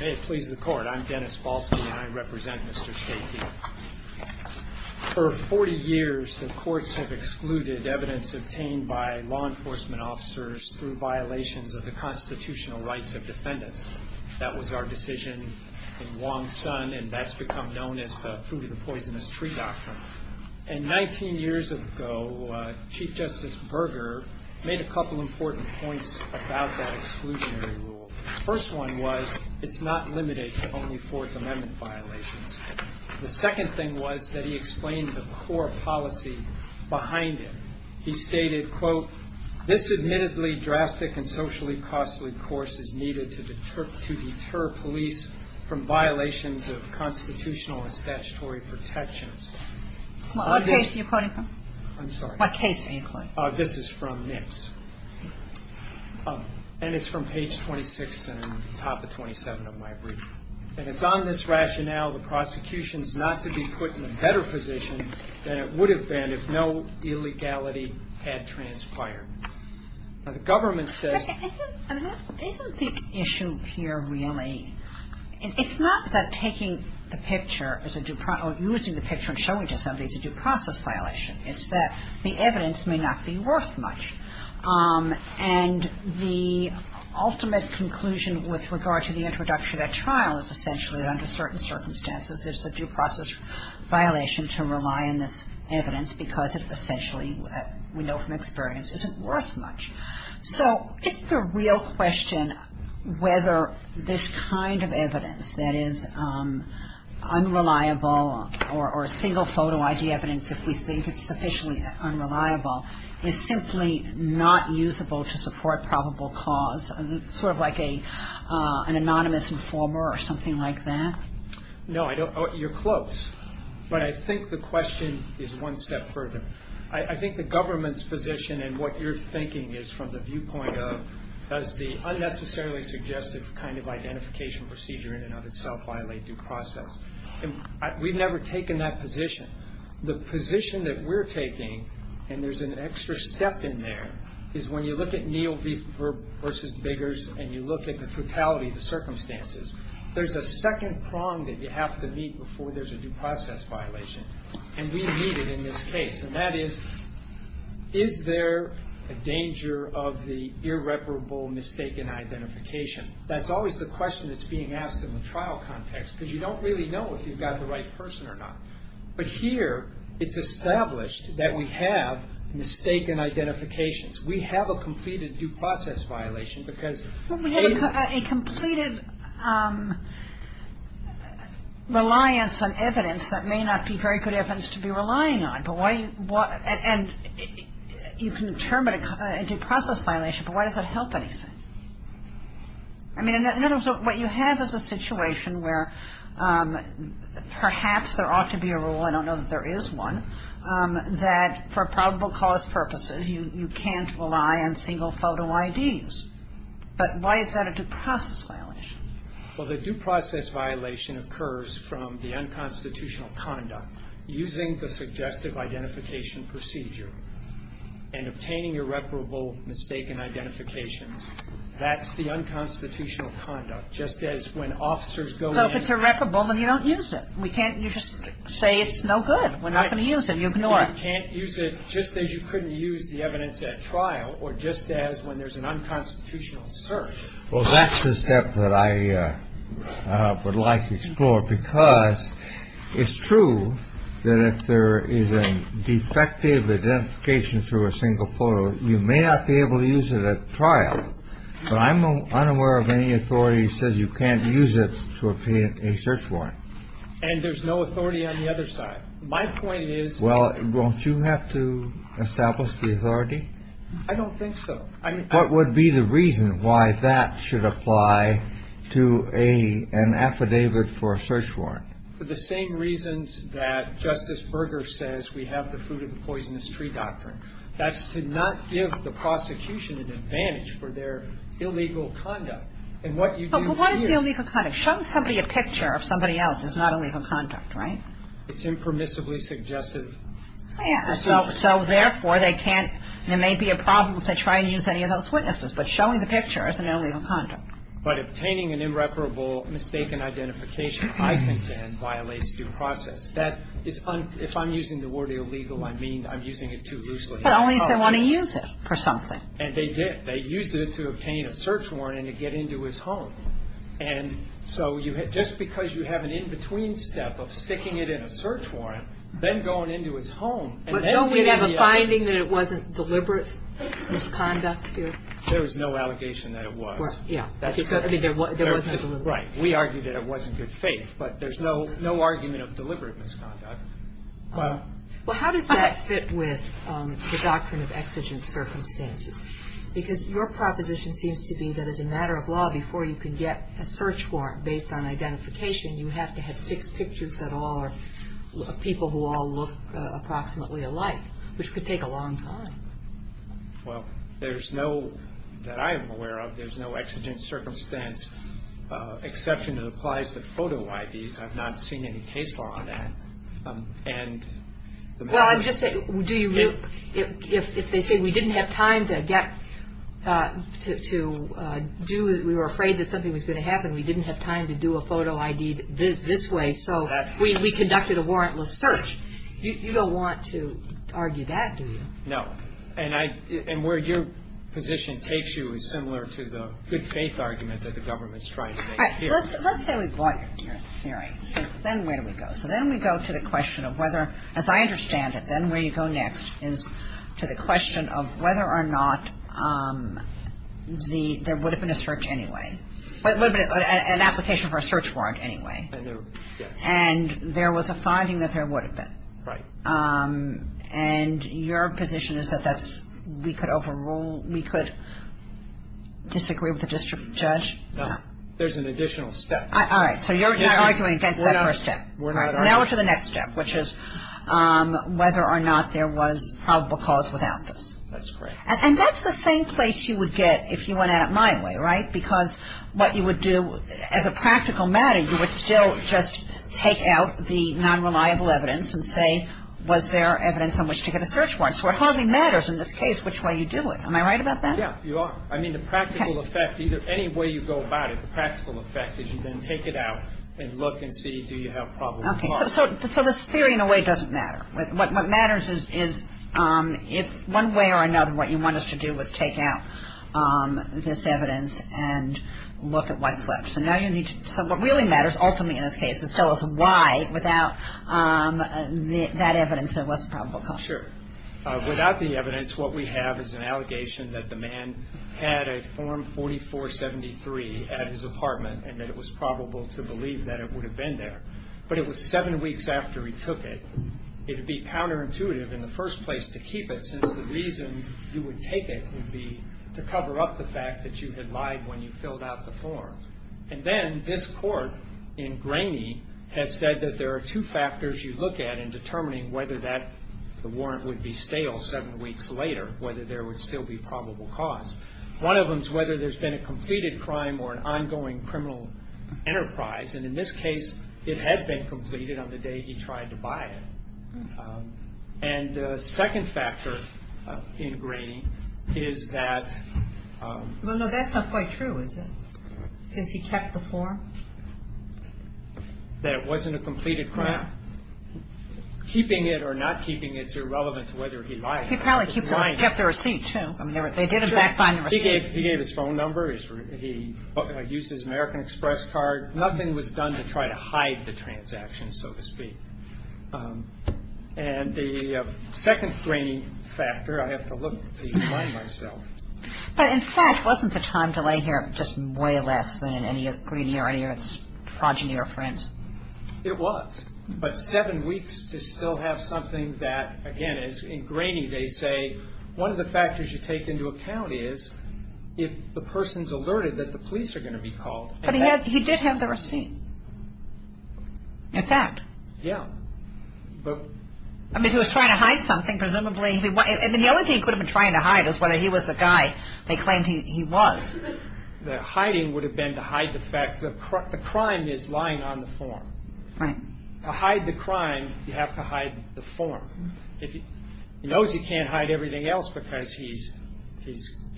May it please the Court, I'm Dennis Falski and I represent Mr. Steitiye. For 40 years, the courts have excluded evidence obtained by law enforcement officers through violations of the constitutional rights of defendants. That was our decision in Wong Son and that's become known as the Food of the Poisonous Tree Doctrine. And 19 years ago, Chief Justice Berger made a couple important points about that exclusionary rule. The first one was it's not limited to only Fourth Amendment violations. The second thing was that he explained the core policy behind it. He stated, quote, this admittedly drastic and socially costly course is needed to deter police from violations of constitutional and statutory protections. What case are you quoting from? I'm sorry. What case are you quoting from? This is from NICS. And it's from page 26 and top of 27 of my brief. And it's on this rationale, the prosecution's not to be put in a better position than it would have been if no illegality had transpired. Now, the government says Isn't the issue here really, it's not that taking the picture or using the picture and showing to somebody it's a due process violation. It's that the evidence may not be worth much. And the ultimate conclusion with regard to the introduction at trial is essentially that under certain circumstances, it's a due process violation to rely on this evidence because it essentially, we know from experience, isn't worth much. So is the real question whether this kind of evidence that is unreliable or single photo ID evidence, if we think it's sufficiently unreliable, is simply not usable to support probable cause, sort of like an anonymous informer or something like that? No, you're close. But I think the question is one step further. I think the government's position and what you're thinking is from the viewpoint of, does the unnecessarily suggestive kind of identification procedure in and of itself violate due process? And we've never taken that position. The position that we're taking, and there's an extra step in there, is when you look at Neal v. Biggers and you look at the totality of the circumstances, there's a second prong that you have to meet before there's a due process violation. And we meet it in this case. And that is, is there a danger of the irreparable mistaken identification? That's always the question that's being asked in the trial context because you don't really know if you've got the right person or not. But here, it's established that we have mistaken identifications. We have a completed due process violation because they've been used. And you can determine a due process violation, but why does that help anything? I mean, in other words, what you have is a situation where perhaps there ought to be a rule, I don't know that there is one, that for probable cause purposes, you can't rely on single photo IDs. But why is that a due process violation? Well, the due process violation occurs from the unconstitutional conduct, using the suggestive identification procedure and obtaining irreparable mistaken identifications. That's the unconstitutional conduct. Just as when officers go in and ---- If it's irreparable, then you don't use it. We can't just say it's no good. We're not going to use it. You ignore it. You can't use it just as you couldn't use the evidence at trial or just as when there's an unconstitutional search. Well, that's the step that I would like to explore because it's true that if there is a defective identification through a single photo, you may not be able to use it at trial. But I'm unaware of any authority that says you can't use it to obtain a search warrant. And there's no authority on the other side. My point is ---- Well, won't you have to establish the authority? I don't think so. What would be the reason why that should apply to an affidavit for a search warrant? For the same reasons that Justice Berger says we have the fruit-of-the-poisonous-tree doctrine. That's to not give the prosecution an advantage for their illegal conduct. And what you do here ---- But what is the illegal conduct? Showing somebody a picture of somebody else is not illegal conduct, right? It's impermissibly suggestive. So, therefore, they can't ---- there may be a problem if they try and use any of those witnesses. But showing the picture is an illegal conduct. But obtaining an irreparable mistaken identification, I think, violates due process. If I'm using the word illegal, I mean I'm using it too loosely. But only if they want to use it for something. And they did. They used it to obtain a search warrant and to get into his home. And so just because you have an in-between step of sticking it in a search warrant, then going into his home, and then giving the evidence ---- But don't we have a finding that it wasn't deliberate misconduct here? There is no allegation that it was. Yeah. I mean, there wasn't a deliberate misconduct. Right. We argue that it wasn't good faith. But there's no argument of deliberate misconduct. Well, how does that fit with the doctrine of exigent circumstances? Because your proposition seems to be that as a matter of law, before you can get a search warrant based on identification, you have to have six pictures that all are people who all look approximately alike, which could take a long time. Well, there's no ---- that I am aware of, there's no exigent circumstance exception that applies to photo IDs. I've not seen any case law on that. And the matter is ---- Well, I'm just saying, do you ---- If they say we didn't have time to get to do it, we were afraid that something was going to happen, we didn't have time to do a photo ID this way, so we conducted a warrantless search. You don't want to argue that, do you? No. And I ---- and where your position takes you is similar to the good faith argument that the government is trying to make here. All right. Let's say we bought your theory. Then where do we go? So then we go to the question of whether, as I understand it, then where you go next is to the question of whether or not the ---- there would have been a search anyway. An application for a search warrant anyway. And there was a finding that there would have been. Right. And your position is that that's we could overrule, we could disagree with the district judge? No. There's an additional step. All right. So you're not arguing against that first step. We're not arguing. So now we're to the next step, which is whether or not there was probable cause without this. That's correct. And that's the same place you would get if you went at it my way, right? Because what you would do as a practical matter, you would still just take out the non-reliable evidence and say was there evidence on which to get a search warrant. So it hardly matters in this case which way you do it. Am I right about that? Yeah, you are. I mean, the practical effect, either any way you go about it, the practical effect is you then take it out and look and see, do you have probable cause? Okay. So this theory in a way doesn't matter. What matters is if one way or another what you want us to do is take out this evidence and look at what's left. So what really matters ultimately in this case is tell us why without that evidence there was probable cause. Sure. Without the evidence, what we have is an allegation that the man had a Form 4473 at his apartment and that it was probable to believe that it would have been there. But it was seven weeks after he took it. It would be counterintuitive in the first place to keep it, since the reason you would take it would be to cover up the fact that you had lied when you filled out the form. And then this court in Graney has said that there are two factors you look at in determining whether that warrant would be stale seven weeks later, whether there would still be probable cause. One of them is whether there's been a completed crime or an ongoing criminal enterprise. And in this case, it had been completed on the day he tried to buy it. And the second factor in Graney is that... Well, no, that's not quite true, is it? Since he kept the form? That it wasn't a completed crime? Keeping it or not keeping it is irrelevant to whether he lied or not. He probably kept the receipt, too. I mean, they did in fact find the receipt. He gave his phone number. He used his American Express card. Nothing was done to try to hide the transaction, so to speak. And the second Graney factor, I have to look to remind myself. But in fact, wasn't the time delay here just way less than in any of Graney or any of his progeny or friends? It was. But seven weeks to still have something that, again, as in Graney they say, one of the factors you take into account is if the person's alerted that the police are going to be called. But he did have the receipt. In fact. Yeah. But... I mean, he was trying to hide something, presumably. I mean, the only thing he could have been trying to hide is whether he was the guy they claimed he was. The hiding would have been to hide the fact that the crime is lying on the form. Right. To hide the crime, you have to hide the form. He knows he can't hide everything else because he's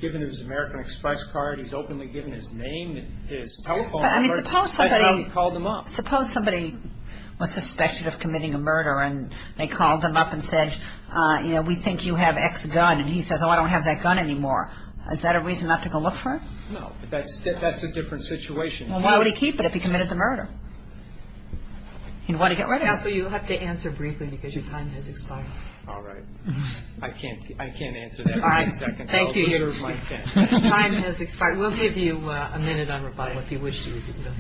given his American Express card. He's openly given his name, his telephone number. I mean, suppose somebody... That's how he called them up. Suppose somebody was suspected of committing a murder and they called them up and said, you know, we think you have X gun, and he says, oh, I don't have that gun anymore. Is that a reason not to go look for it? No. That's a different situation. Well, why would he keep it if he committed the murder? You want to get rid of it? Counsel, you have to answer briefly because your time has expired. All right. I can't answer that in 10 seconds. All right. Thank you. Time has expired. We'll give you a minute on rebuttal if you wish to. I'm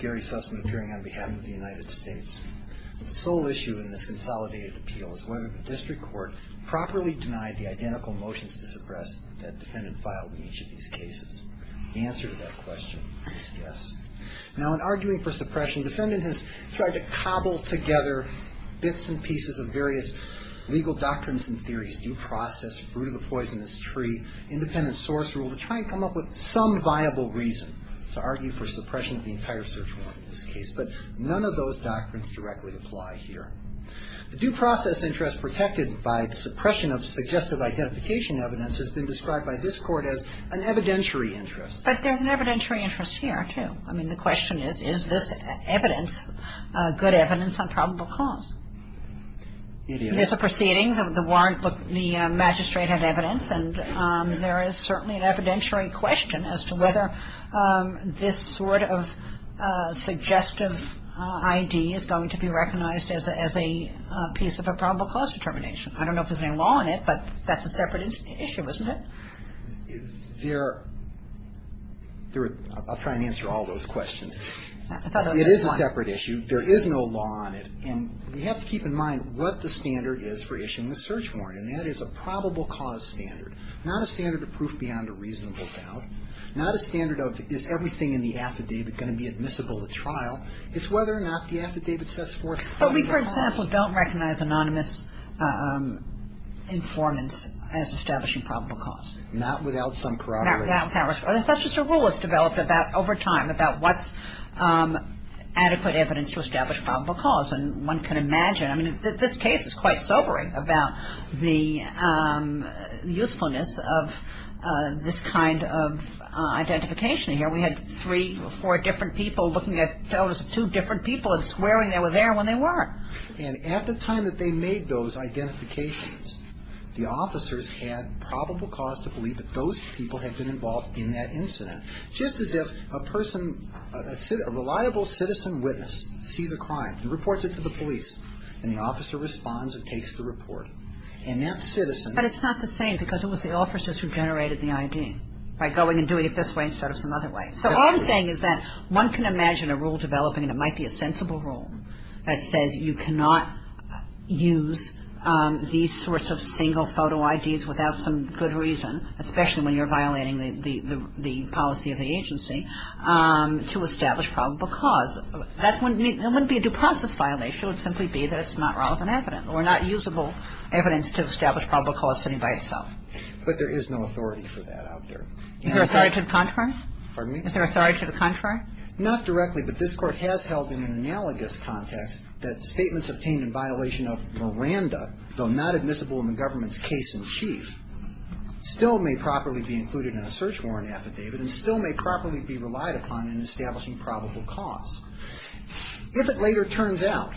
Gary Sussman, appearing on behalf of the United States. The sole issue in this consolidated appeal is whether the district court properly denied the identical motions to suppress that defendant filed in each of these cases. The answer to that question is yes. Now, in arguing for suppression, the defendant has tried to cobble together bits and pieces of various legal doctrines and theories, due process, fruit of the poisonous tree, independent source rule, to try and come up with some viable reason to argue for suppression of the entire search warrant in this case. But none of those doctrines directly apply here. The due process interest protected by the suppression of suggestive identification evidence has been described by this Court as an evidentiary interest. But there's an evidentiary interest here, too. I mean, the question is, is this evidence, good evidence on probable cause? It is. There's a proceeding. The warrant, the magistrate had evidence. And there is certainly an evidentiary question as to whether this sort of suggestive ID is going to be recognized as a piece of a probable cause determination. I don't know if there's any law on it, but that's a separate issue, isn't it? There are. I'll try and answer all those questions. It is a separate issue. There is no law on it. And we have to keep in mind what the standard is for issuing the search warrant, and that is a probable cause standard, not a standard of proof beyond a reasonable doubt, not a standard of is everything in the affidavit going to be admissible at trial. It's whether or not the affidavit says for it. But we, for example, don't recognize anonymous informants as establishing probable cause. Not without some corroboration. That's just a rule that's developed over time about what's adequate evidence to establish probable cause. And one can imagine. I mean, this case is quite sobering about the usefulness of this kind of identification here. We had three or four different people looking at photos of two different people and squaring they were there when they weren't. And at the time that they made those identifications, the officers had probable cause to believe that those people had been involved in that incident. Just as if a person, a reliable citizen witness sees a crime and reports it to the police, and the officer responds and takes the report. And that citizen. But it's not the same because it was the officers who generated the ID by going and doing it this way instead of some other way. So all I'm saying is that one can imagine a rule developing, and it might be a sensible rule, that says you cannot use these sorts of single photo IDs without some good reason, especially when you're violating the policy of the agency, to establish probable cause. That wouldn't be a due process violation. It would simply be that it's not relevant evidence or not usable evidence to establish probable cause sitting by itself. But there is no authority for that out there. Is there authority to the contrary? Pardon me? Is there authority to the contrary? Not directly. But this Court has held in an analogous context that statements obtained in violation of Miranda, though not admissible in the government's case in chief, still may properly be included in a search warrant affidavit and still may properly be relied upon in establishing probable cause. If it later turns out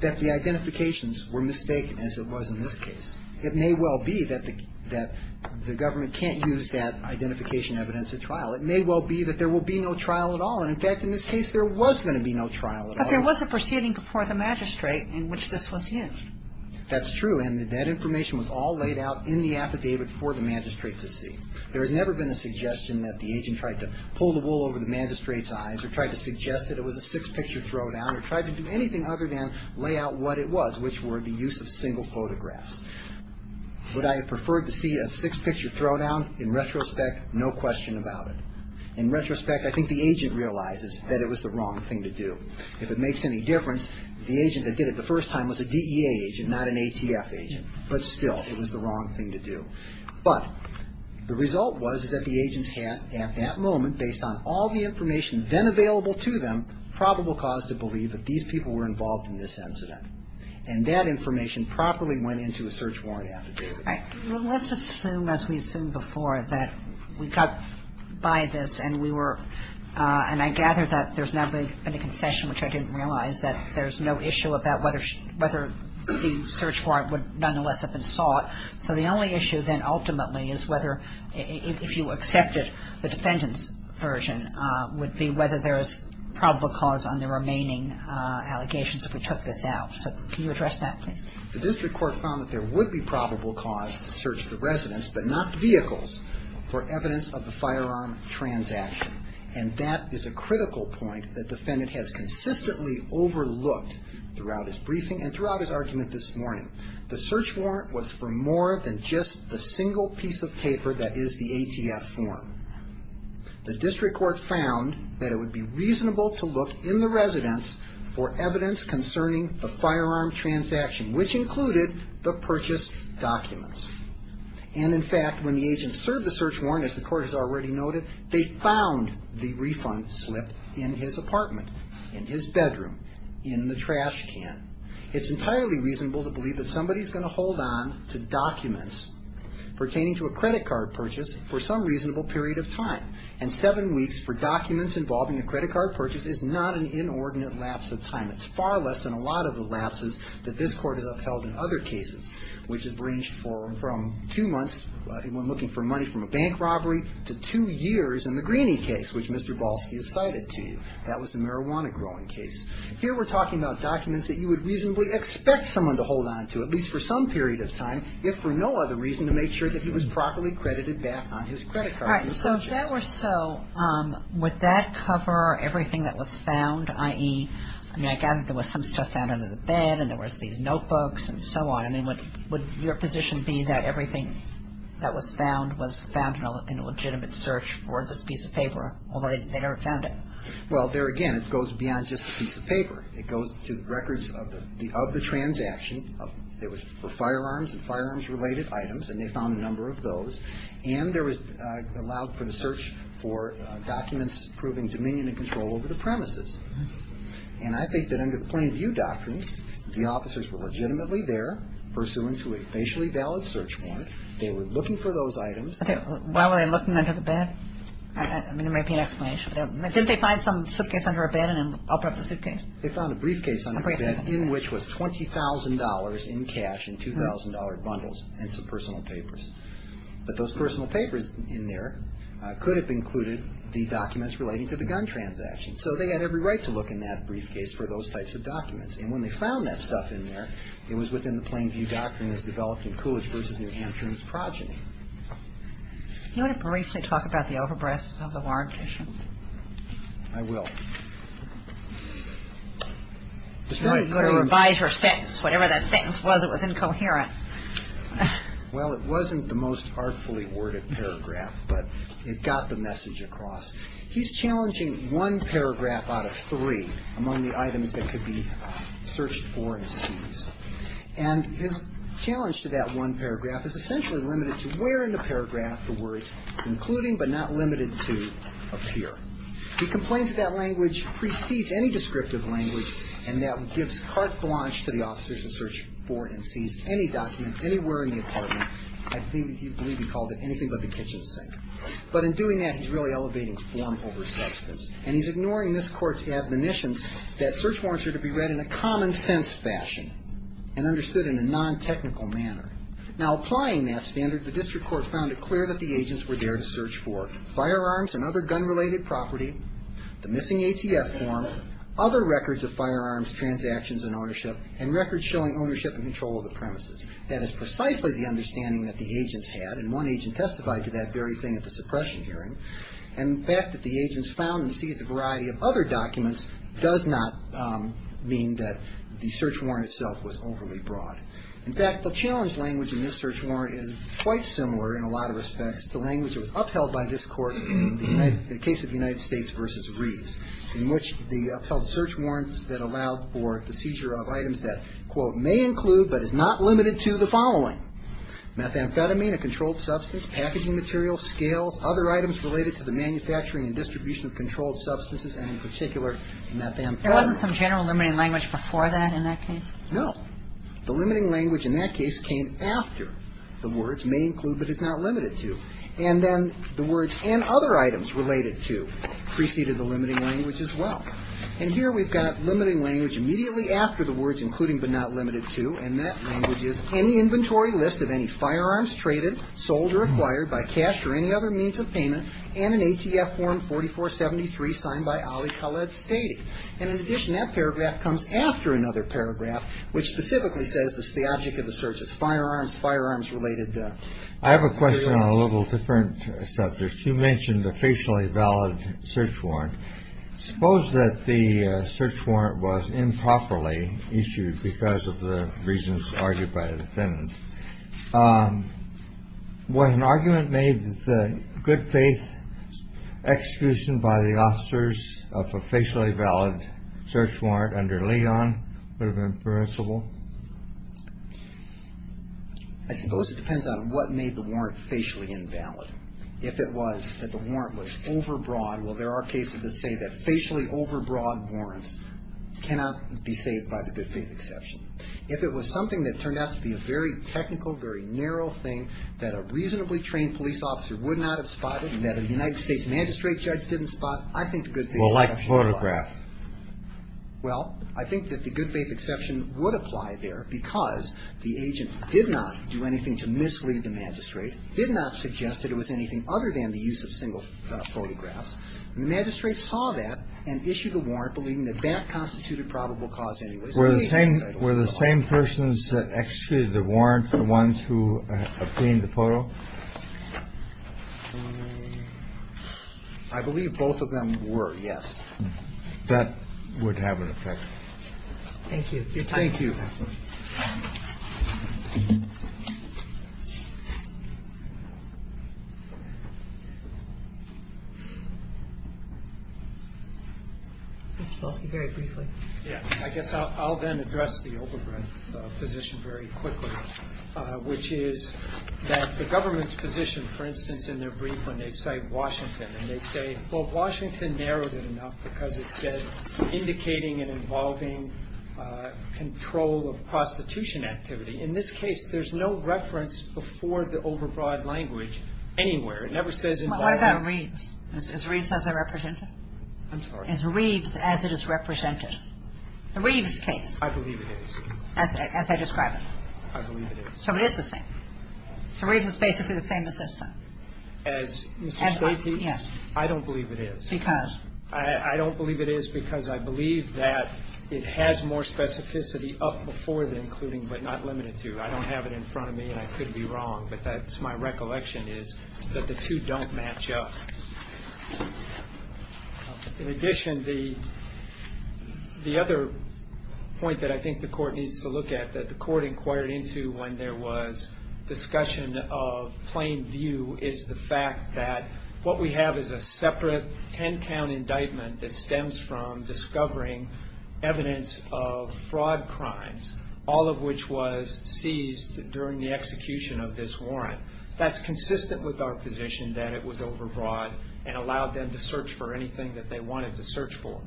that the identifications were mistaken, as it was in this case, it may well be that the government can't use that identification evidence at trial. It may well be that there will be no trial at all. And, in fact, in this case, there was going to be no trial at all. But there was a proceeding before the magistrate in which this was used. That's true. And that information was all laid out in the affidavit for the magistrate to see. There has never been a suggestion that the agent tried to pull the wool over the magistrate's eyes or tried to suggest that it was a six-picture throwdown or tried to do anything other than lay out what it was, which were the use of single photographs. Would I have preferred to see a six-picture throwdown? In retrospect, no question about it. In retrospect, I think the agent realizes that it was the wrong thing to do. If it makes any difference, the agent that did it the first time was a DEA agent, not an ATF agent. But still, it was the wrong thing to do. But the result was that the agents had, at that moment, based on all the information then available to them, probable cause to believe that these people were involved in this incident. And that information properly went into a search warrant affidavit. All right. Well, let's assume, as we assumed before, that we got by this and we were And I gather that there's now been a concession, which I didn't realize, that there's no issue about whether the search warrant would nonetheless have been sought. So the only issue then ultimately is whether, if you accepted the defendant's version, would be whether there is probable cause on the remaining allegations if we took this out. So can you address that, please? The district court found that there would be probable cause to search the residents, but not the vehicles, for evidence of the firearm transaction. And that is a critical point that the defendant has consistently overlooked throughout his briefing and throughout his argument this morning. The search warrant was for more than just the single piece of paper that is the ATF form. The district court found that it would be reasonable to look in the residents for evidence concerning the firearm transaction, which included the purchased documents. And, in fact, when the agent served the search warrant, as the court has already noted, they found the refund slip in his apartment, in his bedroom, in the trash can. It's entirely reasonable to believe that somebody is going to hold on to documents pertaining to a credit card purchase for some reasonable period of time. And seven weeks for documents involving a credit card purchase is not an inordinate lapse of time. It's far less than a lot of the lapses that this court has upheld in other cases, which have ranged from two months when looking for money from a bank robbery to two years in the Greeney case, which Mr. Balski has cited to you. That was the marijuana growing case. Here we're talking about documents that you would reasonably expect someone to hold on to, at least for some period of time, if for no other reason, to make sure that he was properly credited back on his credit card purchase. All right. So if that were so, would that cover everything that was found, i.e., I mean, I gather there was some stuff found under the bed, and there was these notebooks, and so on. I mean, would your position be that everything that was found was found in a legitimate search for this piece of paper, although they never found it? Well, there again, it goes beyond just a piece of paper. It goes to records of the transaction. It was for firearms and firearms-related items, and they found a number of those. And there was allowed for the search for documents proving dominion and control over the premises. And I think that under the plain view doctrine, the officers were legitimately there, pursuant to a facially valid search warrant. They were looking for those items. Why were they looking under the bed? I mean, there may be an explanation for that. Didn't they find some suitcase under a bed and then open up the suitcase? They found a briefcase under a bed in which was $20,000 in cash and $2,000 bundles and some personal papers. But those personal papers in there could have included the documents relating to the gun transaction. So they had every right to look in that briefcase for those types of documents. And when they found that stuff in there, it was within the plain view doctrine as developed in Coolidge v. New Hampshire and his progeny. Do you want to briefly talk about the overbreaths of the warrant issues? I will. You're going to revise your sentence. Whatever that sentence was, it was incoherent. Well, it wasn't the most artfully worded paragraph, but it got the message across. He's challenging one paragraph out of three among the items that could be searched for and seized. And his challenge to that one paragraph is essentially limited to where in the paragraph the words concluding but not limited to appear. He complains that that language precedes any descriptive language and that gives carte blanche to the officers to search for and seize any document anywhere in the apartment. I believe he called it anything but the kitchen sink. But in doing that, he's really elevating form over substance. And he's ignoring this Court's admonitions that search warrants are to be read in a common sense fashion and understood in a non-technical manner. Now, applying that standard, the district court found it clear that the agents were there to search for firearms and other gun-related property, the missing ATF form, other records of firearms transactions and ownership, and records showing ownership and control of the premises. That is precisely the understanding that the agents had. And one agent testified to that very thing at the suppression hearing. And the fact that the agents found and seized a variety of other documents does not mean that the search warrant itself was overly broad. In fact, the challenge language in this search warrant is quite similar in a lot of respects to the language that was upheld by this Court in the case of United States v. Reeves, in which the upheld search warrants that allowed for the seizure of items that, quote, may include but is not limited to the following, methamphetamine, a controlled substance, packaging material, scales, other items related to the manufacturing and distribution of controlled substances, and in particular, methamphetamine. There wasn't some general limiting language before that in that case? No. The limiting language in that case came after the words may include but is not limited to. And then the words and other items related to preceded the limiting language as well. And here we've got limiting language immediately after the words including but not limited to, and that language is any inventory list of any firearms traded, sold, or acquired by cash or any other means of payment, and an ATF form 4473 signed by Ali Khaled Stady. And in addition, that paragraph comes after another paragraph which specifically says the object of the search is firearms, firearms related to the area. I have a question on a little different subject. You mentioned a facially valid search warrant. Suppose that the search warrant was improperly issued because of the reasons argued by the defendant. Would an argument made that the good faith execution by the officers of a facially valid search warrant under Leon would have been permissible? I suppose it depends on what made the warrant facially invalid. If it was that the warrant was overbroad, well, there are cases that say that facially overbroad warrants cannot be saved by the good faith exception. If it was something that turned out to be a very technical, very narrow thing, that a reasonably trained police officer would not have spotted and that a United States magistrate judge didn't spot, I think the good faith exception would apply. Well, like photograph. Well, I think that the good faith exception would apply there because the agent did not do anything to mislead the magistrate, did not suggest that it was anything other than the use of single photographs. The magistrate saw that and issued a warrant believing that that constituted probable cause anyway. Were the same persons that executed the warrant the ones who obtained the photo? I believe both of them were, yes. That would have an effect. Thank you. Thank you. Thank you. I guess I'll then address the overbreadth position very quickly, which is that the government's position, for instance, in their brief when they cite Washington and they say, well, In this case, there's no reference before the overbroad language anywhere. It never says involved. What about Reeves? Is Reeves as a representative? I'm sorry. Is Reeves as it is represented? The Reeves case. I believe it is. As I describe it. I believe it is. So it is the same. So Reeves is basically the same assistant. As Mr. Spaty? Yes. I don't believe it is. Because? I don't believe it is because I believe that it has more specificity up before the including, but not limited to. I don't have it in front of me, and I could be wrong. But that's my recollection is that the two don't match up. In addition, the other point that I think the Court needs to look at, that the Court inquired into when there was discussion of plain view, is the fact that what we have is a separate ten-count indictment that stems from discovering evidence of fraud crimes, all of which was seized during the execution of this warrant. That's consistent with our position that it was overbroad and allowed them to search for anything that they wanted to search for.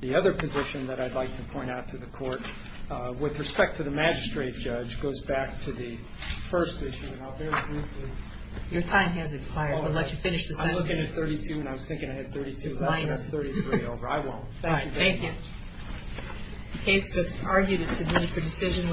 The other position that I'd like to point out to the Court with respect to the magistrate judge which goes back to the first issue, and I'll very briefly. Your time has expired. I'll let you finish the sentence. I'm looking at 32, and I was thinking I had 32. It's minus. I'm going to have 33 over. I won't. Thank you very much. All right. Thank you. The case was argued as subpoenaed for decision.